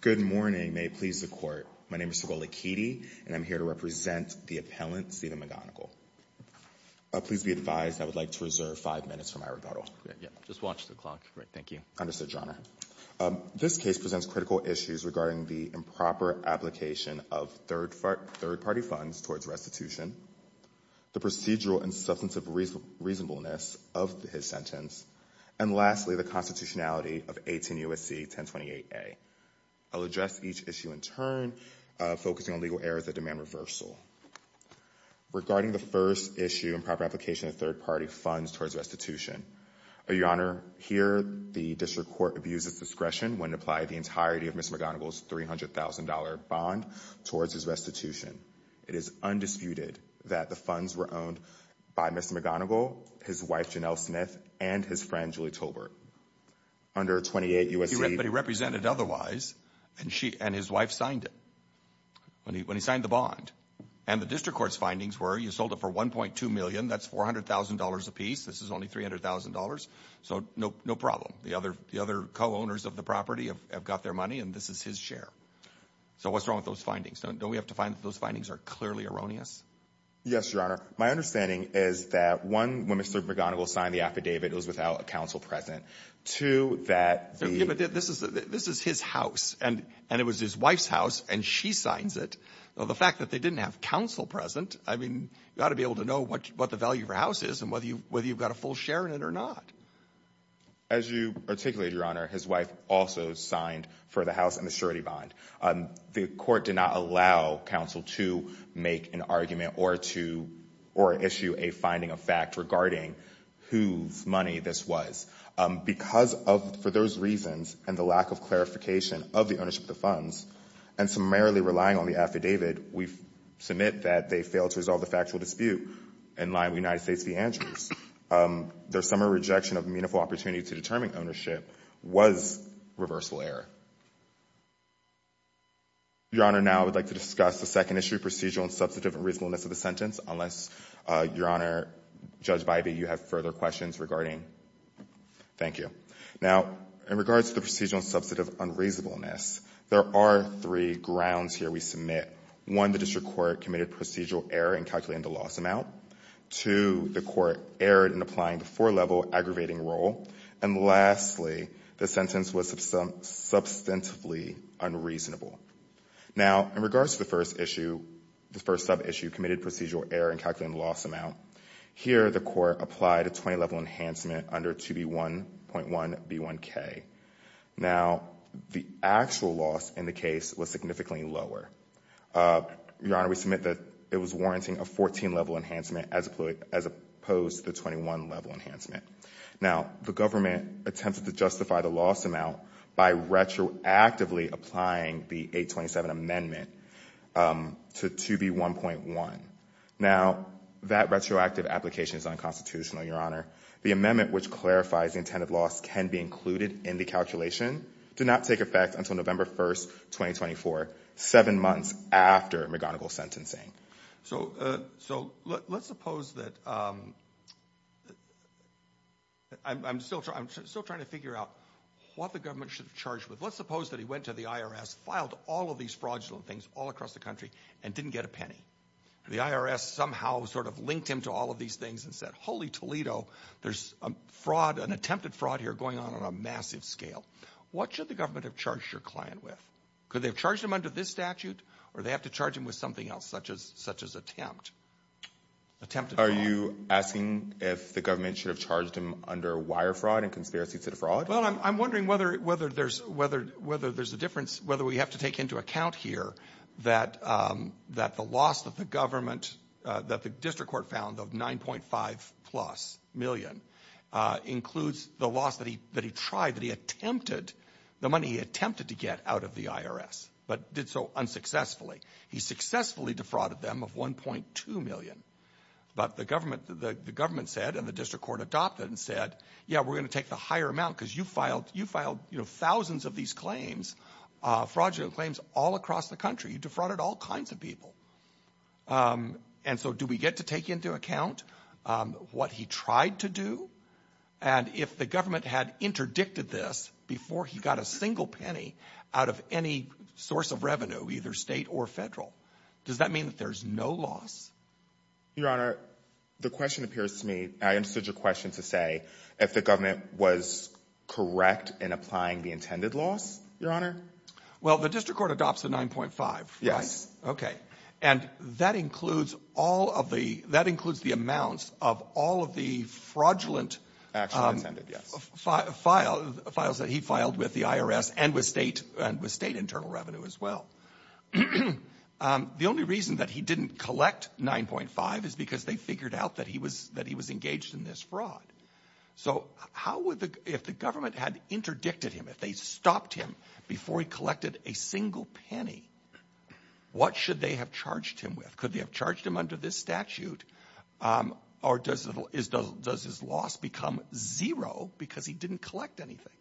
Good morning. May it please the Court. My name is Sokol Lakidi, and I'm here to represent the appellant, Stephen McGonigle. Please be advised I would like to reserve five minutes for my rebuttal. Just watch the clock. Thank you. Understood, Your Honor. This case presents critical issues regarding the improper application of third-party funds towards restitution, the procedural and substantive reasonableness of his sentence, and lastly, the constitutionality of 18 U.S.C. 1028A. I'll address each issue in turn, focusing on legal errors that demand reversal. Regarding the first issue, improper application of third-party funds towards restitution, Your Honor, here the District Court abuses discretion when applying the entirety of Mr. It is undisputed that the funds were owned by Mr. McGonigle, his wife, Janelle Smith, and his friend, Julie Tolbert. Under 28 U.S.C. But he represented otherwise, and his wife signed it, when he signed the bond. And the District Court's findings were you sold it for $1.2 million. That's $400,000 apiece. This is only $300,000. So no problem. The other co-owners of the property have got their money, and this is his share. So what's wrong with those findings? Don't we have to find that those findings are clearly erroneous? Yes, Your Honor. My understanding is that, one, when Mr. McGonigle signed the affidavit, it was without a counsel present. Two, that the Yeah, but this is his house, and it was his wife's house, and she signs it. The fact that they didn't have counsel present, I mean, you've got to be able to know what the value of your house is and whether you've got a full share in it or not. As you articulated, Your Honor, his wife also signed for the house and the surety bond. The court did not allow counsel to make an argument or issue a finding of fact regarding whose money this was. Because of, for those reasons, and the lack of clarification of the ownership of the funds, and summarily relying on the affidavit, we submit that they failed to resolve the factual dispute in line with United States v. Andrews. There's some rejection of meaningful opportunity to determine ownership was reversible error. Your Honor, now I would like to discuss the second issue, procedural and substantive unreasonableness of the sentence, unless, Your Honor, Judge Bybee, you have further questions regarding Thank you. Now, in regards to the procedural and substantive unreasonableness, there are three grounds here we submit. One, the district court committed procedural error in calculating the loss amount. Two, the court erred in applying the four-level aggravating rule. And lastly, the sentence was substantively unreasonable. Now, in regards to the first issue, the first sub-issue, committed procedural error in calculating the loss amount, here the court applied a 20-level enhancement under 2B1.1B1K. Now, the actual loss in the case was significantly lower. Your Honor, we submit that it was warranting a 14-level enhancement as opposed to the 21-level enhancement. Now, the government attempted to justify the loss amount by retroactively applying the 827 amendment to 2B1.1. Now, that retroactive application is unconstitutional, Your Honor. The amendment which clarifies the intended loss can be included in the calculation, did not take effect until November 1st, 2024, seven months after McGonigal's sentencing. So, let's suppose that, I'm still trying to figure out what the government should have charged with. Let's suppose that he went to the IRS, filed all of these fraudulent things all across the country, and didn't get a penny. The IRS somehow sort of linked him to all of these things and said, holy Toledo, there's a fraud, an attempted fraud here going on on a massive scale. What should the government have charged your client with? Could they have charged him under this statute, or they have to charge him with something else, such as attempt? Attempted fraud. Are you asking if the government should have charged him under wire fraud and conspiracy to defraud? Well, I'm wondering whether there's a difference, whether we have to take into account here that the loss that the government, that the district court found of 9.5 plus million includes the loss that he tried, that he attempted, the money he attempted to get out of the IRS, but did so unsuccessfully. He successfully defrauded them of 1.2 million. But the government said, and the district court adopted and said, yeah, we're going to take the higher amount because you filed thousands of these claims, fraudulent claims, all across the country. You defrauded all kinds of people. And so do we get to take into account what he tried to do? And if the government had interdicted this before he got a single penny out of any source of revenue, either state or federal, does that mean that there's no loss? Your Honor, the question appears to me, I understood your question to say, if the government was correct in applying the intended loss, Your Honor? Well, the district court adopts a 9.5. Yes. Okay. And that includes all of the, that includes the amounts of all of the fraudulent Actually intended, yes. Files that he filed with the IRS and with state internal revenue as well. The only reason that he didn't collect 9.5 is because they figured out that he was engaged in this fraud. So how would the, if the government had interdicted him, if they stopped him before he collected a single penny, what should they have charged him with? Could they have charged him under this statute? Or does his loss become zero because he didn't collect anything?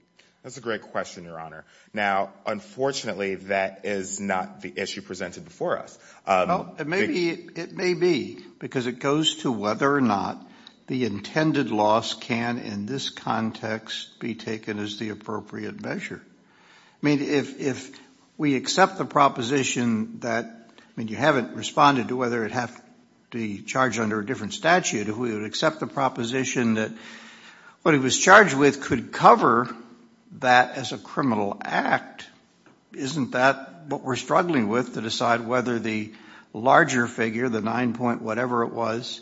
That's a great question, Your Honor. Now, unfortunately, that is not the issue presented before us. Well, it may be, it may be, because it goes to whether or not the intended loss can, in this context, be taken as the appropriate measure. I mean, if we accept the proposition that, I mean, you haven't responded to whether it have to be charged under a different statute. If we would accept the proposition that what he was charged with could cover that as a larger figure, the nine point whatever it was,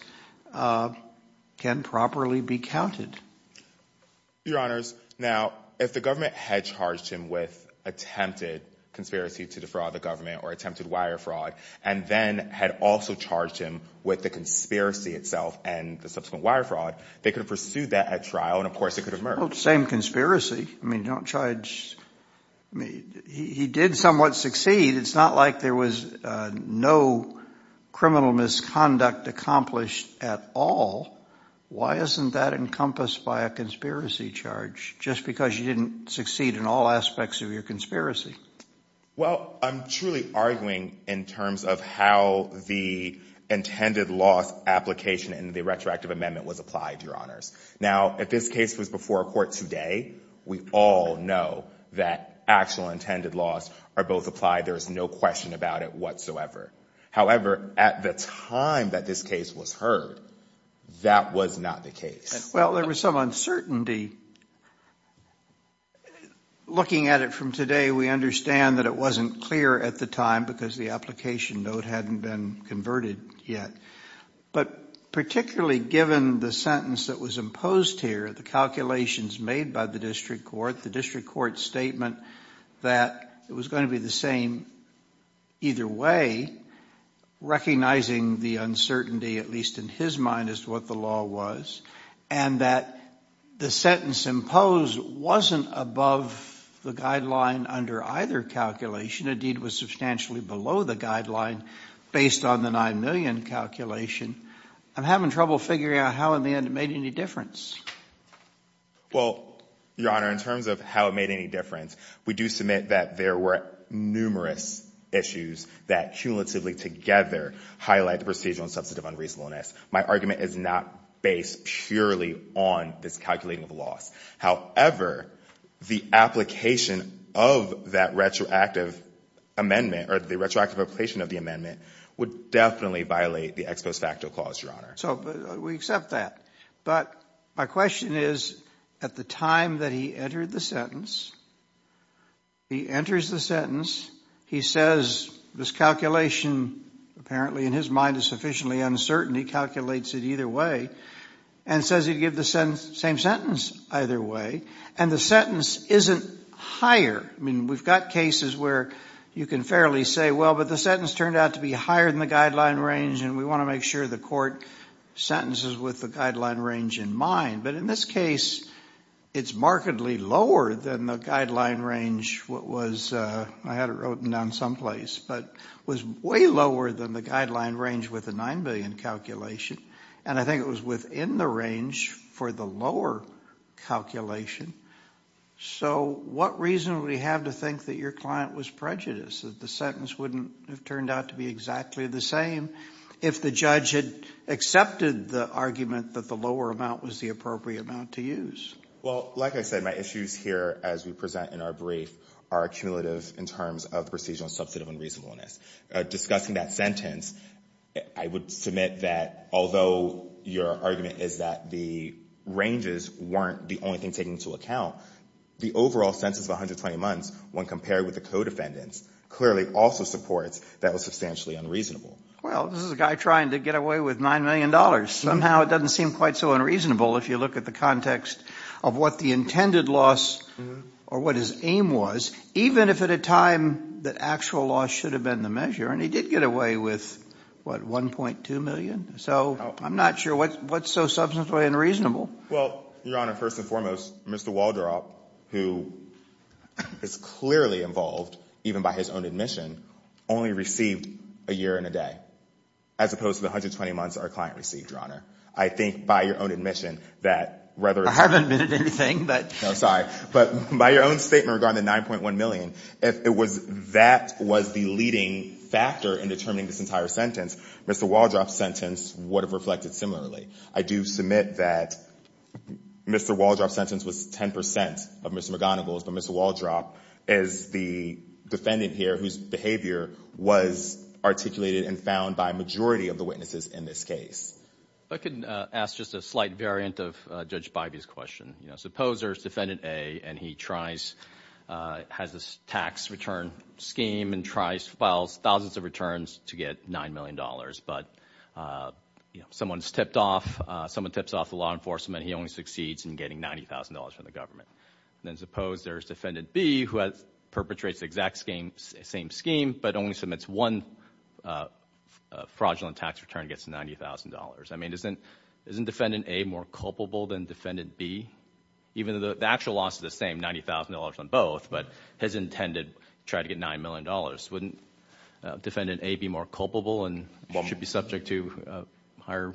can properly be counted. Your Honors, now, if the government had charged him with attempted conspiracy to defraud the government or attempted wire fraud, and then had also charged him with the conspiracy itself and the subsequent wire fraud, they could have pursued that at trial, and of course, it could have merged. Same conspiracy. I mean, don't charge, I mean, he did somewhat succeed. It's not like there was no criminal misconduct accomplished at all. Why isn't that encompassed by a conspiracy charge, just because you didn't succeed in all aspects of your conspiracy? Well, I'm truly arguing in terms of how the intended loss application in the retroactive amendment was applied, Your Honors. Now, if this case was before a court today, we all know that actual intended loss are both applied. There is no question about it whatsoever. However, at the time that this case was heard, that was not the case. Well, there was some uncertainty. Looking at it from today, we understand that it wasn't clear at the time because the application note hadn't been converted yet. But particularly given the sentence that was imposed here, the calculations made by the district court, the district court statement that it was going to be the same either way, recognizing the uncertainty, at least in his mind, as to what the law was, and that the sentence imposed wasn't above the guideline under either calculation. Indeed, it was substantially below the guideline based on the 9 million calculation. I'm having trouble figuring out how in the end it made any difference. Well, Your Honor, in terms of how it made any difference, we do submit that there were numerous issues that cumulatively together highlight the procedural and substantive unreasonableness. My argument is not based purely on this calculating of loss. However, the application of that retroactive amendment or the retroactive application of the amendment would definitely violate the ex post facto clause, Your Honor. So we accept that. But my question is, at the time that he entered the sentence, he enters the sentence, he says this calculation apparently in his mind is sufficiently uncertain, he calculates it either way, and says he'd give the same sentence either way, and the sentence isn't higher. I mean, we've got cases where you can fairly say, well, but the sentence turned out to be higher than the guideline range, and we want to make sure the sentence is with the guideline range in mind. But in this case, it's markedly lower than the guideline range, what was, I had it written down someplace, but was way lower than the guideline range with the 9 million calculation. And I think it was within the range for the lower calculation. So what reason would he have to think that your client was prejudiced, that the sentence wouldn't have turned out to be exactly the same if the judge had accepted the argument that the lower amount was the appropriate amount to use? Well, like I said, my issues here, as we present in our brief, are cumulative in terms of procedural substantive unreasonableness. Discussing that sentence, I would submit that although your argument is that the ranges weren't the only thing taken into account, the overall census of 120 months, when compared with the co-defendants, clearly also supports that was substantially unreasonable. Well, this is a guy trying to get away with $9 million. Somehow it doesn't seem quite so unreasonable if you look at the context of what the intended loss or what his aim was, even if at a time that actual loss should have been the measure. And he did get away with, what, $1.2 million? So I'm not sure what's so substantially unreasonable. Well, Your Honor, first and foremost, Mr. Waldrop, who is clearly involved, even by his own admission, only received a year and a day, as opposed to the 120 months our client received, Your Honor. I think by your own admission that rather than... I haven't admitted anything, but... No, sorry. But by your own statement regarding the $9.1 million, if that was the leading factor in determining this entire sentence, Mr. Waldrop's sentence would have reflected similarly. I do submit that Mr. Waldrop's sentence was 10 percent of Mr. McGonigal's, but Mr. Waldrop is the defendant here whose behavior was articulated and found by a majority of the witnesses in this case. If I could ask just a slight variant of Judge Bybee's question. Supposer is defendant A, and he has this tax return scheme and files thousands of returns to get $9 million. But someone's tipped off. Someone tips off the law enforcement. He only succeeds in getting $90,000 from the government. Then suppose there's defendant B, who perpetrates the exact same scheme, but only submits one fraudulent tax return and gets $90,000. I mean, isn't defendant A more culpable than defendant B? Even though the actual loss is the same, $90,000 on both, but his intended try to get $9 million. Wouldn't defendant A be more culpable and should be subject to a higher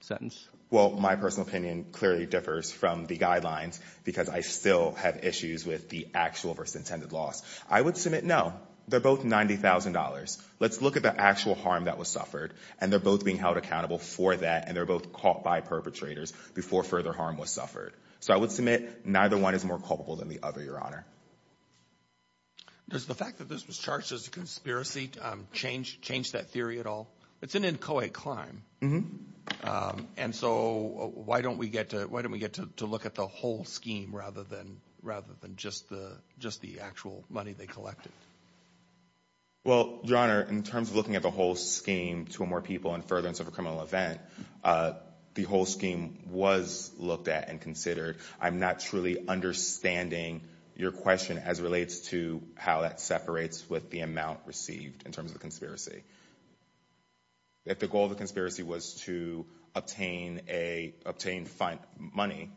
sentence? Well, my personal opinion clearly differs from the guidelines because I still have issues with the actual versus intended loss. I would submit no. They're both $90,000. Let's look at the actual harm that was suffered, and they're both being held accountable for that, and they're both caught by perpetrators before further harm was suffered. So I would submit neither one is more culpable than the other, Your Honor. Does the fact that this was charged as a conspiracy change that theory at all? It's an inchoate climb. And so why don't we get to look at the whole scheme rather than just the actual money they collected? Well, Your Honor, in terms of looking at the whole scheme, two or more people in furtherance of a criminal event, the whole scheme was looked at and considered. I'm not truly understanding your question as relates to how that separates with the amount received in terms of the conspiracy. If the goal of the conspiracy was to obtain money,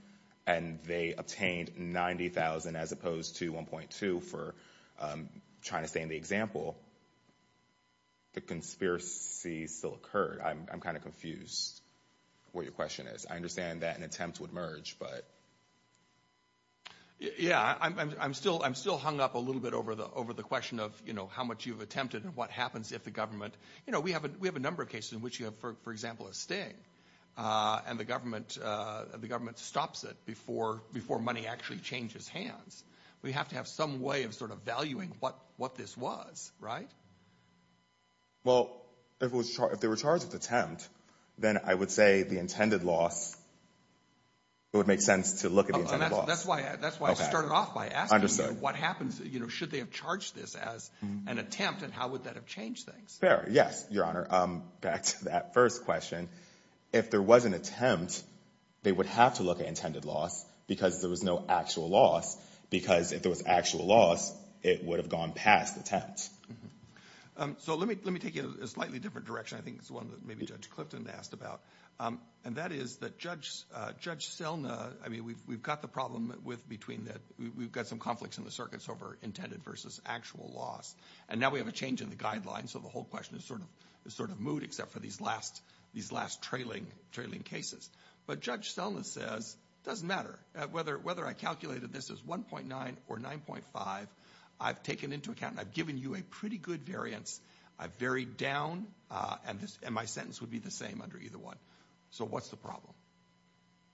and they obtained $90,000 as opposed to $1.2 for trying to stand the example, the conspiracy still occurred. I'm kind of confused what your question is. I understand that an attempt would merge, but yeah, I'm still hung up a little bit over the question of, you know, how much you've attempted and what happens if the government, you know, we have a number of cases in which you have, for example, a sting, and the government stops it before money actually changes hands. We have to have some way of sort of valuing what this was, right? Well, if they were charged with attempt, then I would say the intended loss, it would make sense to look at the intended loss. That's why I started off by asking what happens, you know, should they have charged this as an attempt, and how would that have changed things? Fair. Yes, Your Honor. Back to that first question. If there was an attempt, they would have to look at intended loss because there was no actual loss, because if there was actual loss, it would have gone past attempt. So let me take you in a slightly different direction. I think it's one that maybe Judge Clifton asked about, and that is that Judge Selna, I mean, we've got the problem with between that we've got some conflicts in the circuits over intended versus actual loss, and now we have a change in the guidelines, so the whole question is sort of moot except for these last trailing cases. But Judge Selna says it doesn't matter whether I calculated this as 1.9 or 9.5, I've taken into account, I've given you a pretty good variance, I've varied down, and my sentence would be the same under either one. So what's the problem?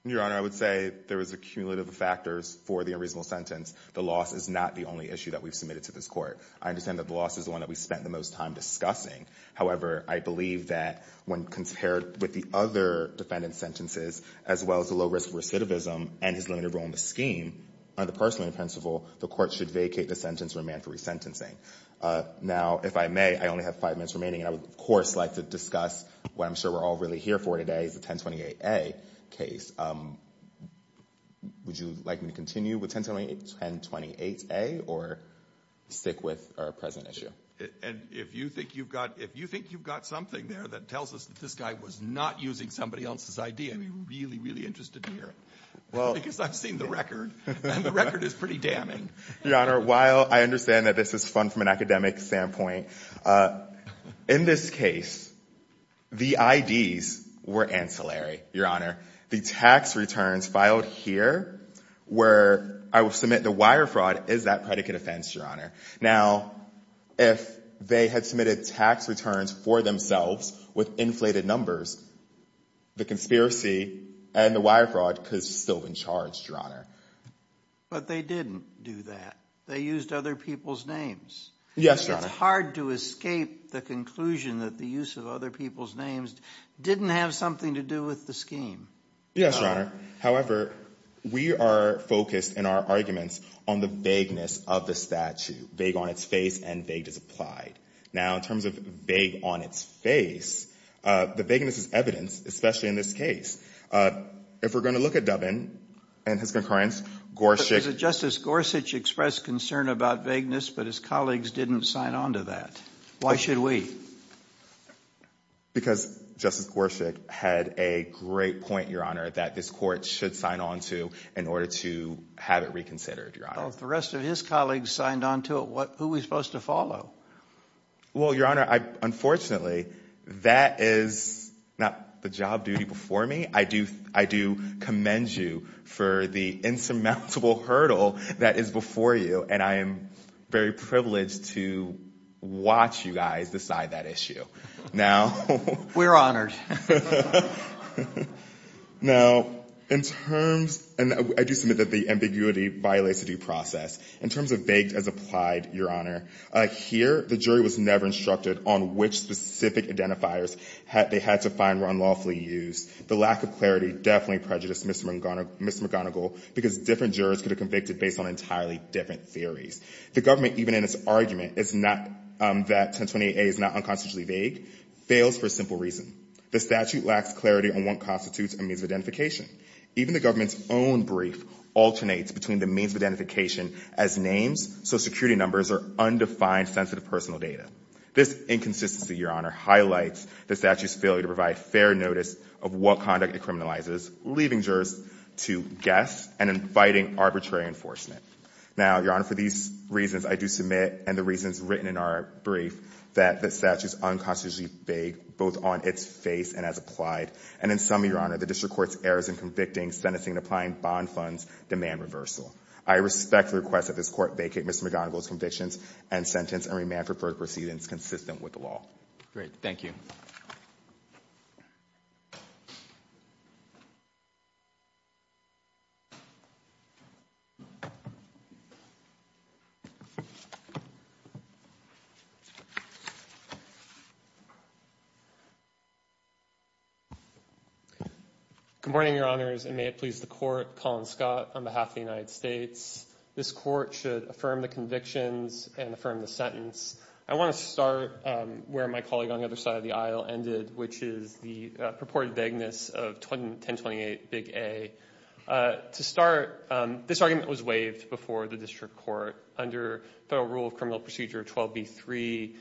Your Honor, I would say there is a cumulative of factors for the unreasonable sentence. The loss is not the only issue that we've submitted to this Court. I understand that the loss is the one that we spent the most time discussing. However, I believe that when compared with the other defendant's sentences, as well as the low-risk recidivism and his limited role in the scheme, under the parsimony principle, the Court should vacate the sentence for a man for resentencing. Now, if I may, I only have five minutes remaining, and I would like to discuss what I'm sure we're all really here for today, the 1028A case. Would you like me to continue with 1028A or stick with our present issue? And if you think you've got something there that tells us that this guy was not using somebody else's ID, I'd be really, really interested to hear it. Because I've seen the record, and the record is pretty damning. Your Honor, while I understand that this is an academic standpoint, in this case, the IDs were ancillary, Your Honor. The tax returns filed here, where I would submit the wire fraud, is that predicate offense, Your Honor. Now, if they had submitted tax returns for themselves with inflated numbers, the conspiracy and the wire fraud could have still been charged, Your Honor. But they didn't do that. They used other people's names. Yes, Your Honor. It's hard to escape the conclusion that the use of other people's names didn't have something to do with the scheme. Yes, Your Honor. However, we are focused in our arguments on the vagueness of the statute, vague on its face and vague as applied. Now, in terms of vague on its face, the vagueness is evidence, especially in this case. If we're going to look at Dubbin and his concurrence, Gorsuch— Justice Gorsuch expressed concern about vagueness, but his colleagues didn't sign on to that. Why should we? Because Justice Gorsuch had a great point, Your Honor, that this court should sign on to in order to have it reconsidered, Your Honor. The rest of his colleagues signed on to it. Who are we supposed to follow? Well, Your Honor, unfortunately, that is not the job duty before me. I do commend you for the insurmountable hurdle that is before you, and I am very privileged to watch you guys decide that issue. Now— We're honored. Now, in terms—and I do submit that the ambiguity violates the due process. In terms of vague as applied, Your Honor, here, the jury was never instructed on which specific identifiers they had to find were unlawfully used. The lack of clarity definitely prejudiced Ms. McGonigal because different jurors could have convicted based on entirely different theories. The government, even in its argument, is not—that 1028A is not unconstitutionally vague, fails for a simple reason. The statute lacks clarity on what constitutes a means of identification. Even the government's own brief alternates between the means of identification as names, social security numbers, or undefined sensitive personal data. This inconsistency, Your Honor, highlights the statute's failure to provide fair notice of what conduct it criminalizes, leaving jurors to guess and inviting arbitrary enforcement. Now, Your Honor, for these reasons, I do submit, and the reasons written in our brief, that the statute is unconstitutionally vague, both on its face and as applied. And in some, Your Honor, the district court's in convicting, sentencing, and applying bond funds demand reversal. I respect the request that this Court vacate Ms. McGonigal's convictions and sentence and remand for further proceedings consistent with the law. Good morning, Your Honors, and may it please the Court, Colin Scott, on behalf of the United States. This Court should affirm the convictions and affirm the sentence. I want to start where my colleague on the other side of the aisle ended, which is the purported vagueness of 1028A. To start, this argument was waived before the district court under Federal Rule of Criminal Procedure 12b3.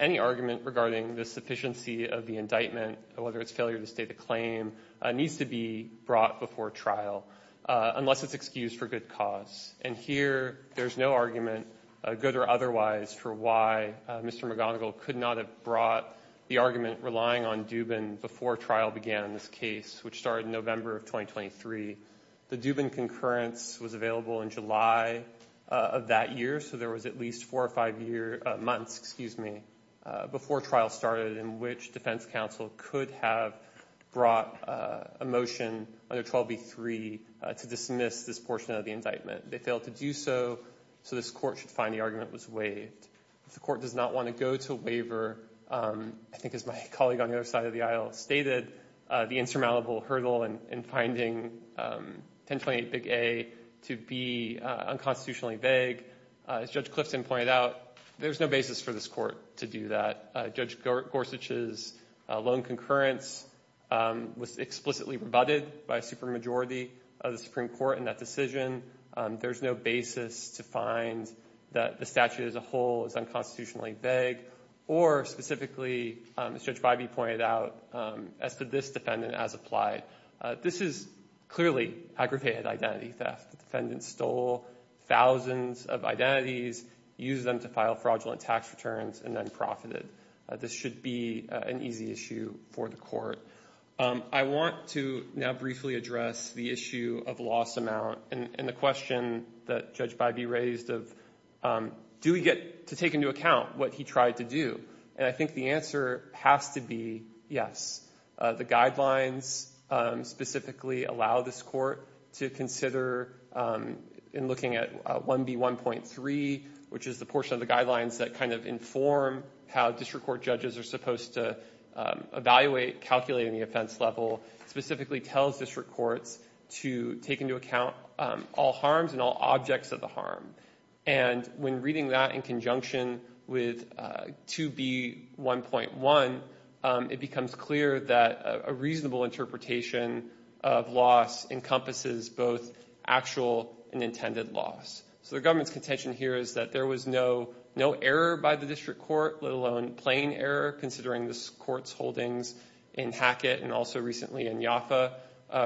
Any argument regarding the sufficiency of the indictment, whether it's failure to state a claim, needs to be brought before trial unless it's excused for good cause. And here, there's no argument, good or otherwise, for why Mr. McGonigal could not have brought the argument relying on Dubin before trial began in this case, which started in November of 2023. The Dubin concurrence was available in July of that year, so there was at least four or five months before trial started in which defense counsel could have brought a motion under 12b3 to dismiss this portion of the indictment. They failed to do so, so this Court should find the argument was waived. If the Court does not want to go to waiver, I think as my colleague on the other side of the aisle stated, the insurmountable hurdle in finding 1028 Big A to be unconstitutionally vague, as Judge Clifton pointed out, there's no basis for this Court to do that. Judge Gorsuch's lone concurrence was explicitly rebutted by a supermajority of the Supreme Court in that decision. There's no basis to find that the statute as a whole is unconstitutionally vague, or specifically, as Judge Bybee pointed out, as to this defendant as applied. This is clearly aggravated identity theft. The defendant stole thousands of identities, used them to file fraudulent tax returns, and then profited. This should be an easy issue for the Court. I want to now briefly address the issue of loss amount and the question that Judge Bybee raised of, do we get to take into account what he tried to do? And I think the answer has to be yes. The guidelines specifically allow this Court to consider, in looking at 1B1.3, which is the portion of the guidelines that kind of inform how district court judges are supposed to evaluate, calculate any offense level, specifically tells district courts to take into account all harms and all objects of the harm. And when reading that in conjunction with 2B1.1, it becomes clear that a reasonable interpretation of loss encompasses both actual and intended loss. So the government's contention here is that there was no error by the district court, let alone plain error, considering this Court's holdings in Hackett and also recently in Yoffa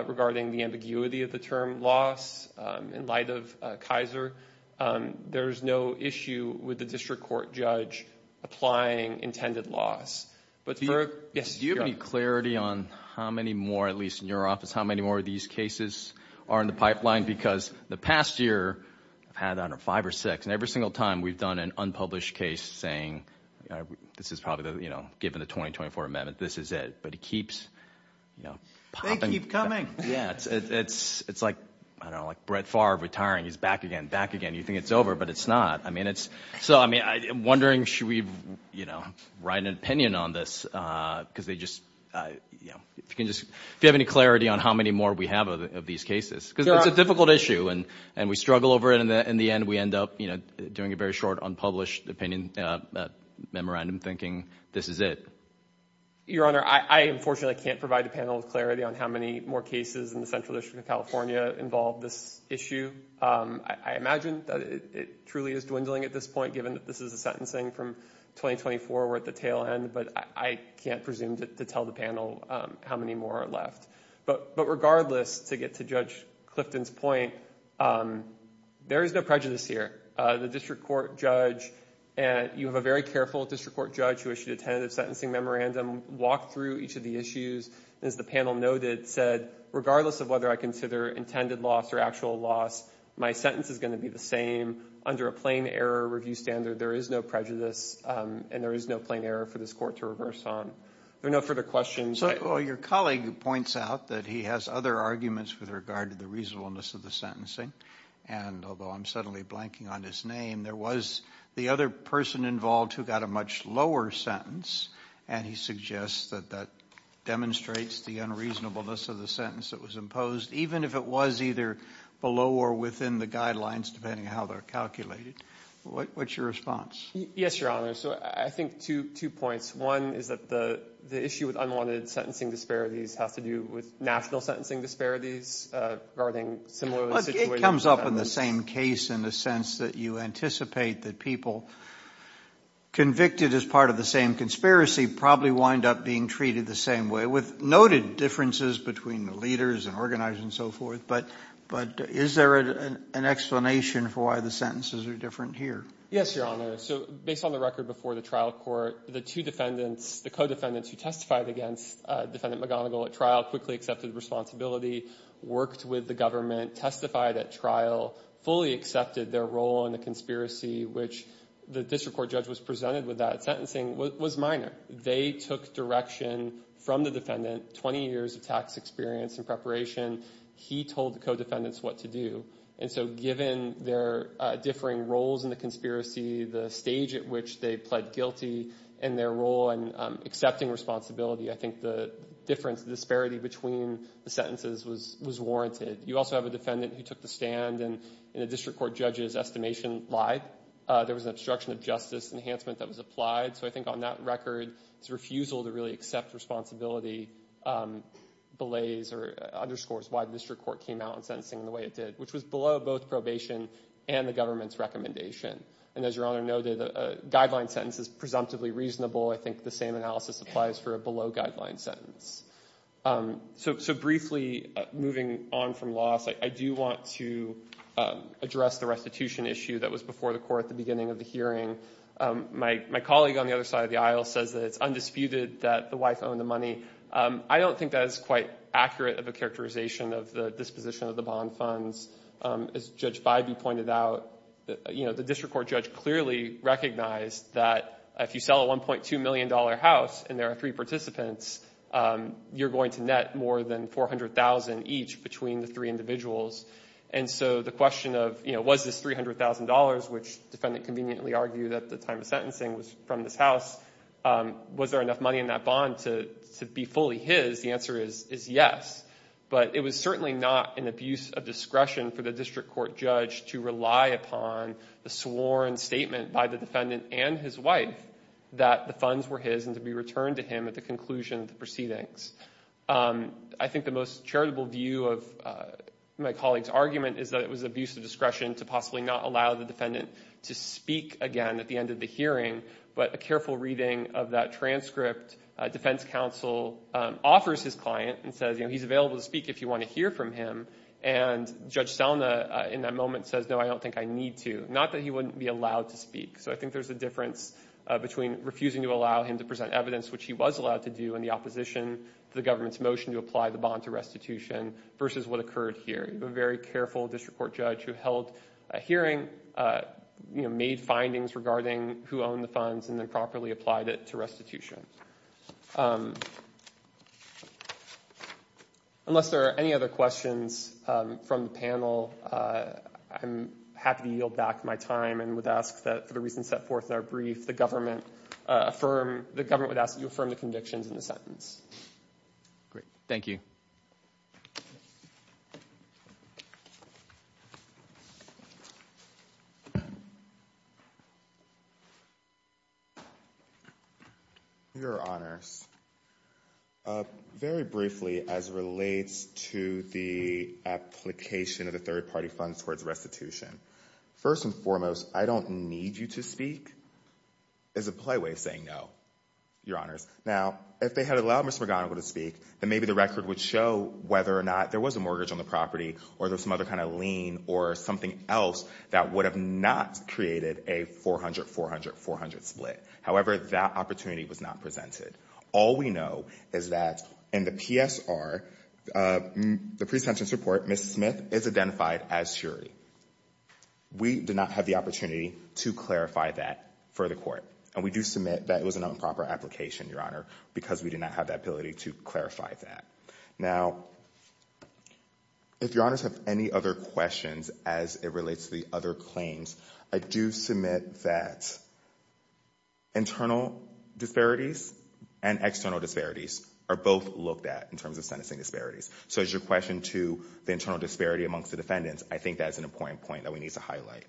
regarding the ambiguity of the term loss in light of Kaiser. There's no issue with the district court judge applying intended loss. Do you have any clarity on how many more, at least in your office, how many more of these cases are in the pipeline? Because the past year I've had under five or six, and every single time we've done an unpublished case saying, this is probably the, you know, given the 2024 amendment, this is it. But it keeps, you know, popping. They keep coming. Yeah, it's like, I don't know, like Brett Favre retiring, he's back again, back again. You think it's over, but it's not. I mean, it's, so I mean, I'm wondering, should we, you know, write an opinion on this? Because they just, you know, if you can just, if you have any clarity on how many more we have of these cases, because it's a difficult issue and we struggle over it and in the end we end up, you know, doing a very short unpublished opinion, memorandum thinking, this is it. Your Honor, I unfortunately can't provide a panel with clarity on how many more cases in the Central District of California involve this issue. I imagine that it truly is dwindling at this point, given that this is a sentencing from 2024, we're at the tail end, but I can't presume to tell the panel how many more are left. But regardless, to get to Judge Clifton's point, there is no prejudice. You have a very careful district court judge who issued a tentative sentencing memorandum, walked through each of the issues, and as the panel noted, said, regardless of whether I consider intended loss or actual loss, my sentence is going to be the same. Under a plain error review standard, there is no prejudice and there is no plain error for this court to reverse on. Are there no further questions? Well, your colleague points out that he has other arguments with regard to the reasonableness of the sentencing, and although I'm suddenly blanking on his name, there was the other person involved who got a much lower sentence, and he suggests that that demonstrates the unreasonableness of the sentence that was imposed, even if it was either below or within the guidelines, depending on how they're calculated. What's your response? Yes, Your Honor. So I think two points. One is that the issue with unwanted sentencing disparities has to do with national sentencing disparities regarding similar situations. But it comes up in the same case in the sense that you anticipate that people convicted as part of the same conspiracy probably wind up being treated the same way, with noted differences between the leaders and organizers and so forth. But is there an explanation for why the sentences are different here? Yes, Your Honor. So based on the record before the trial court, the two defendants, the co-defendants who testified against Defendant McGonigal at trial quickly accepted responsibility, worked with the government, testified at trial, fully accepted their role in the conspiracy, which the district court judge was presented with that sentencing, was minor. They took direction from the defendant, 20 years of tax experience and preparation. He told the co-defendants what to do. And so given their differing roles in the conspiracy, the stage at which they pled guilty and their role in accepting responsibility, I think the difference, the disparity between the sentences was warranted. You also have a defendant who took the stand and the district court judge's estimation lied. There was an obstruction of justice enhancement that was applied. So I think on that record, it's a refusal to really accept responsibility belays or underscores why the district court came out in sentencing the way it did, which was below both probation and the government's recommendation. And as Your Honor noted, a guideline sentence is presumptively reasonable. I think the same analysis applies for a below guideline sentence. So briefly moving on from loss, I do want to address the restitution issue that was before the court at the beginning of the hearing. My colleague on the other side of the aisle says that it's undisputed that the wife owned the money. I don't think that is quite accurate of a characterization of the disposition of the bond funds. As Judge Bybee pointed out, you know, the district court judge clearly recognized that if you sell a $1.2 million house and there are three participants, you're going to net more than $400,000 each between the three individuals. And so the question of, you know, was this $300,000, which defendant conveniently argued at the time of sentencing was from this house, was there enough money in that bond to be fully his, the answer is yes. But it was certainly not an abuse of discretion for the district court judge to rely upon the sworn statement by the defendant and his wife that the funds were his and to be returned to him at the conclusion of the proceedings. I think the most charitable view of my colleague's argument is that it was abuse of discretion to possibly not allow the defendant to speak again at the end of the hearing. But a careful reading of that transcript, defense counsel offers his client and he's available to speak if you want to hear from him. And Judge Selna in that moment says, no, I don't think I need to. Not that he wouldn't be allowed to speak. So I think there's a difference between refusing to allow him to present evidence, which he was allowed to do in the opposition to the government's motion to apply the bond to restitution versus what occurred here. A very careful district court judge who held a hearing, you know, made findings regarding who owned the funds and then properly applied it to restitution. Unless there are any other questions from the panel, I'm happy to yield back my time and would ask that for the reasons set forth in our brief, the government would ask that you affirm the convictions in the sentence. Great. Thank you. Thank you, Your Honors. Very briefly as relates to the application of the third party funds towards restitution. First and foremost, I don't need you to speak as a play way of saying no, Your Honors. Now, if they had allowed Mr. McGonigal to speak, then maybe the record would show whether or not there was a mortgage on the property or there's some other kind of lien or something else that would have not created a 400-400-400 split. However, that opportunity was not presented. All we know is that in the PSR, the pre-sentence report, Ms. Smith is identified as surety. We did not have the opportunity to clarify that for the court. And we do submit that it was an improper application, Your Honor, because we did not have the ability to clarify that. Now, if Your Honors have any other questions as it relates to the other claims, I do submit that internal disparities and external disparities are both looked at in terms of sentencing disparities. So as your question to the internal disparity amongst the defendants, I think that's an important point that we need to highlight.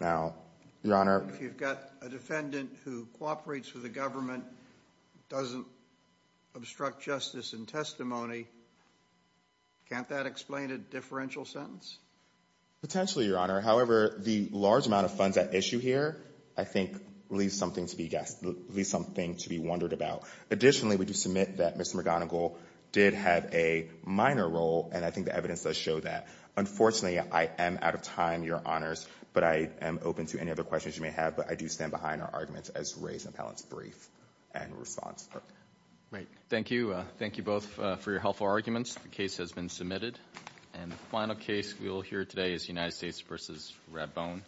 Now, Your Honor. If you've got a defendant who cooperates with the government, doesn't obstruct justice and testimony, can't that explain a differential sentence? Potentially, Your Honor. However, the large amount of funds at issue here, I think, leaves something to be guessed, leaves something to be wondered about. Additionally, we do submit that Mr. McGonigal did have a minor role, and I think the evidence does show that. Unfortunately, I am out of time, Your Honors, but I am open to any other questions you may have, but I do stand behind our arguments as raised in Appellant's brief and response. Thank you. Thank you both for your helpful arguments. The case has been submitted. And the final case we will hear today is United States v. Redbone.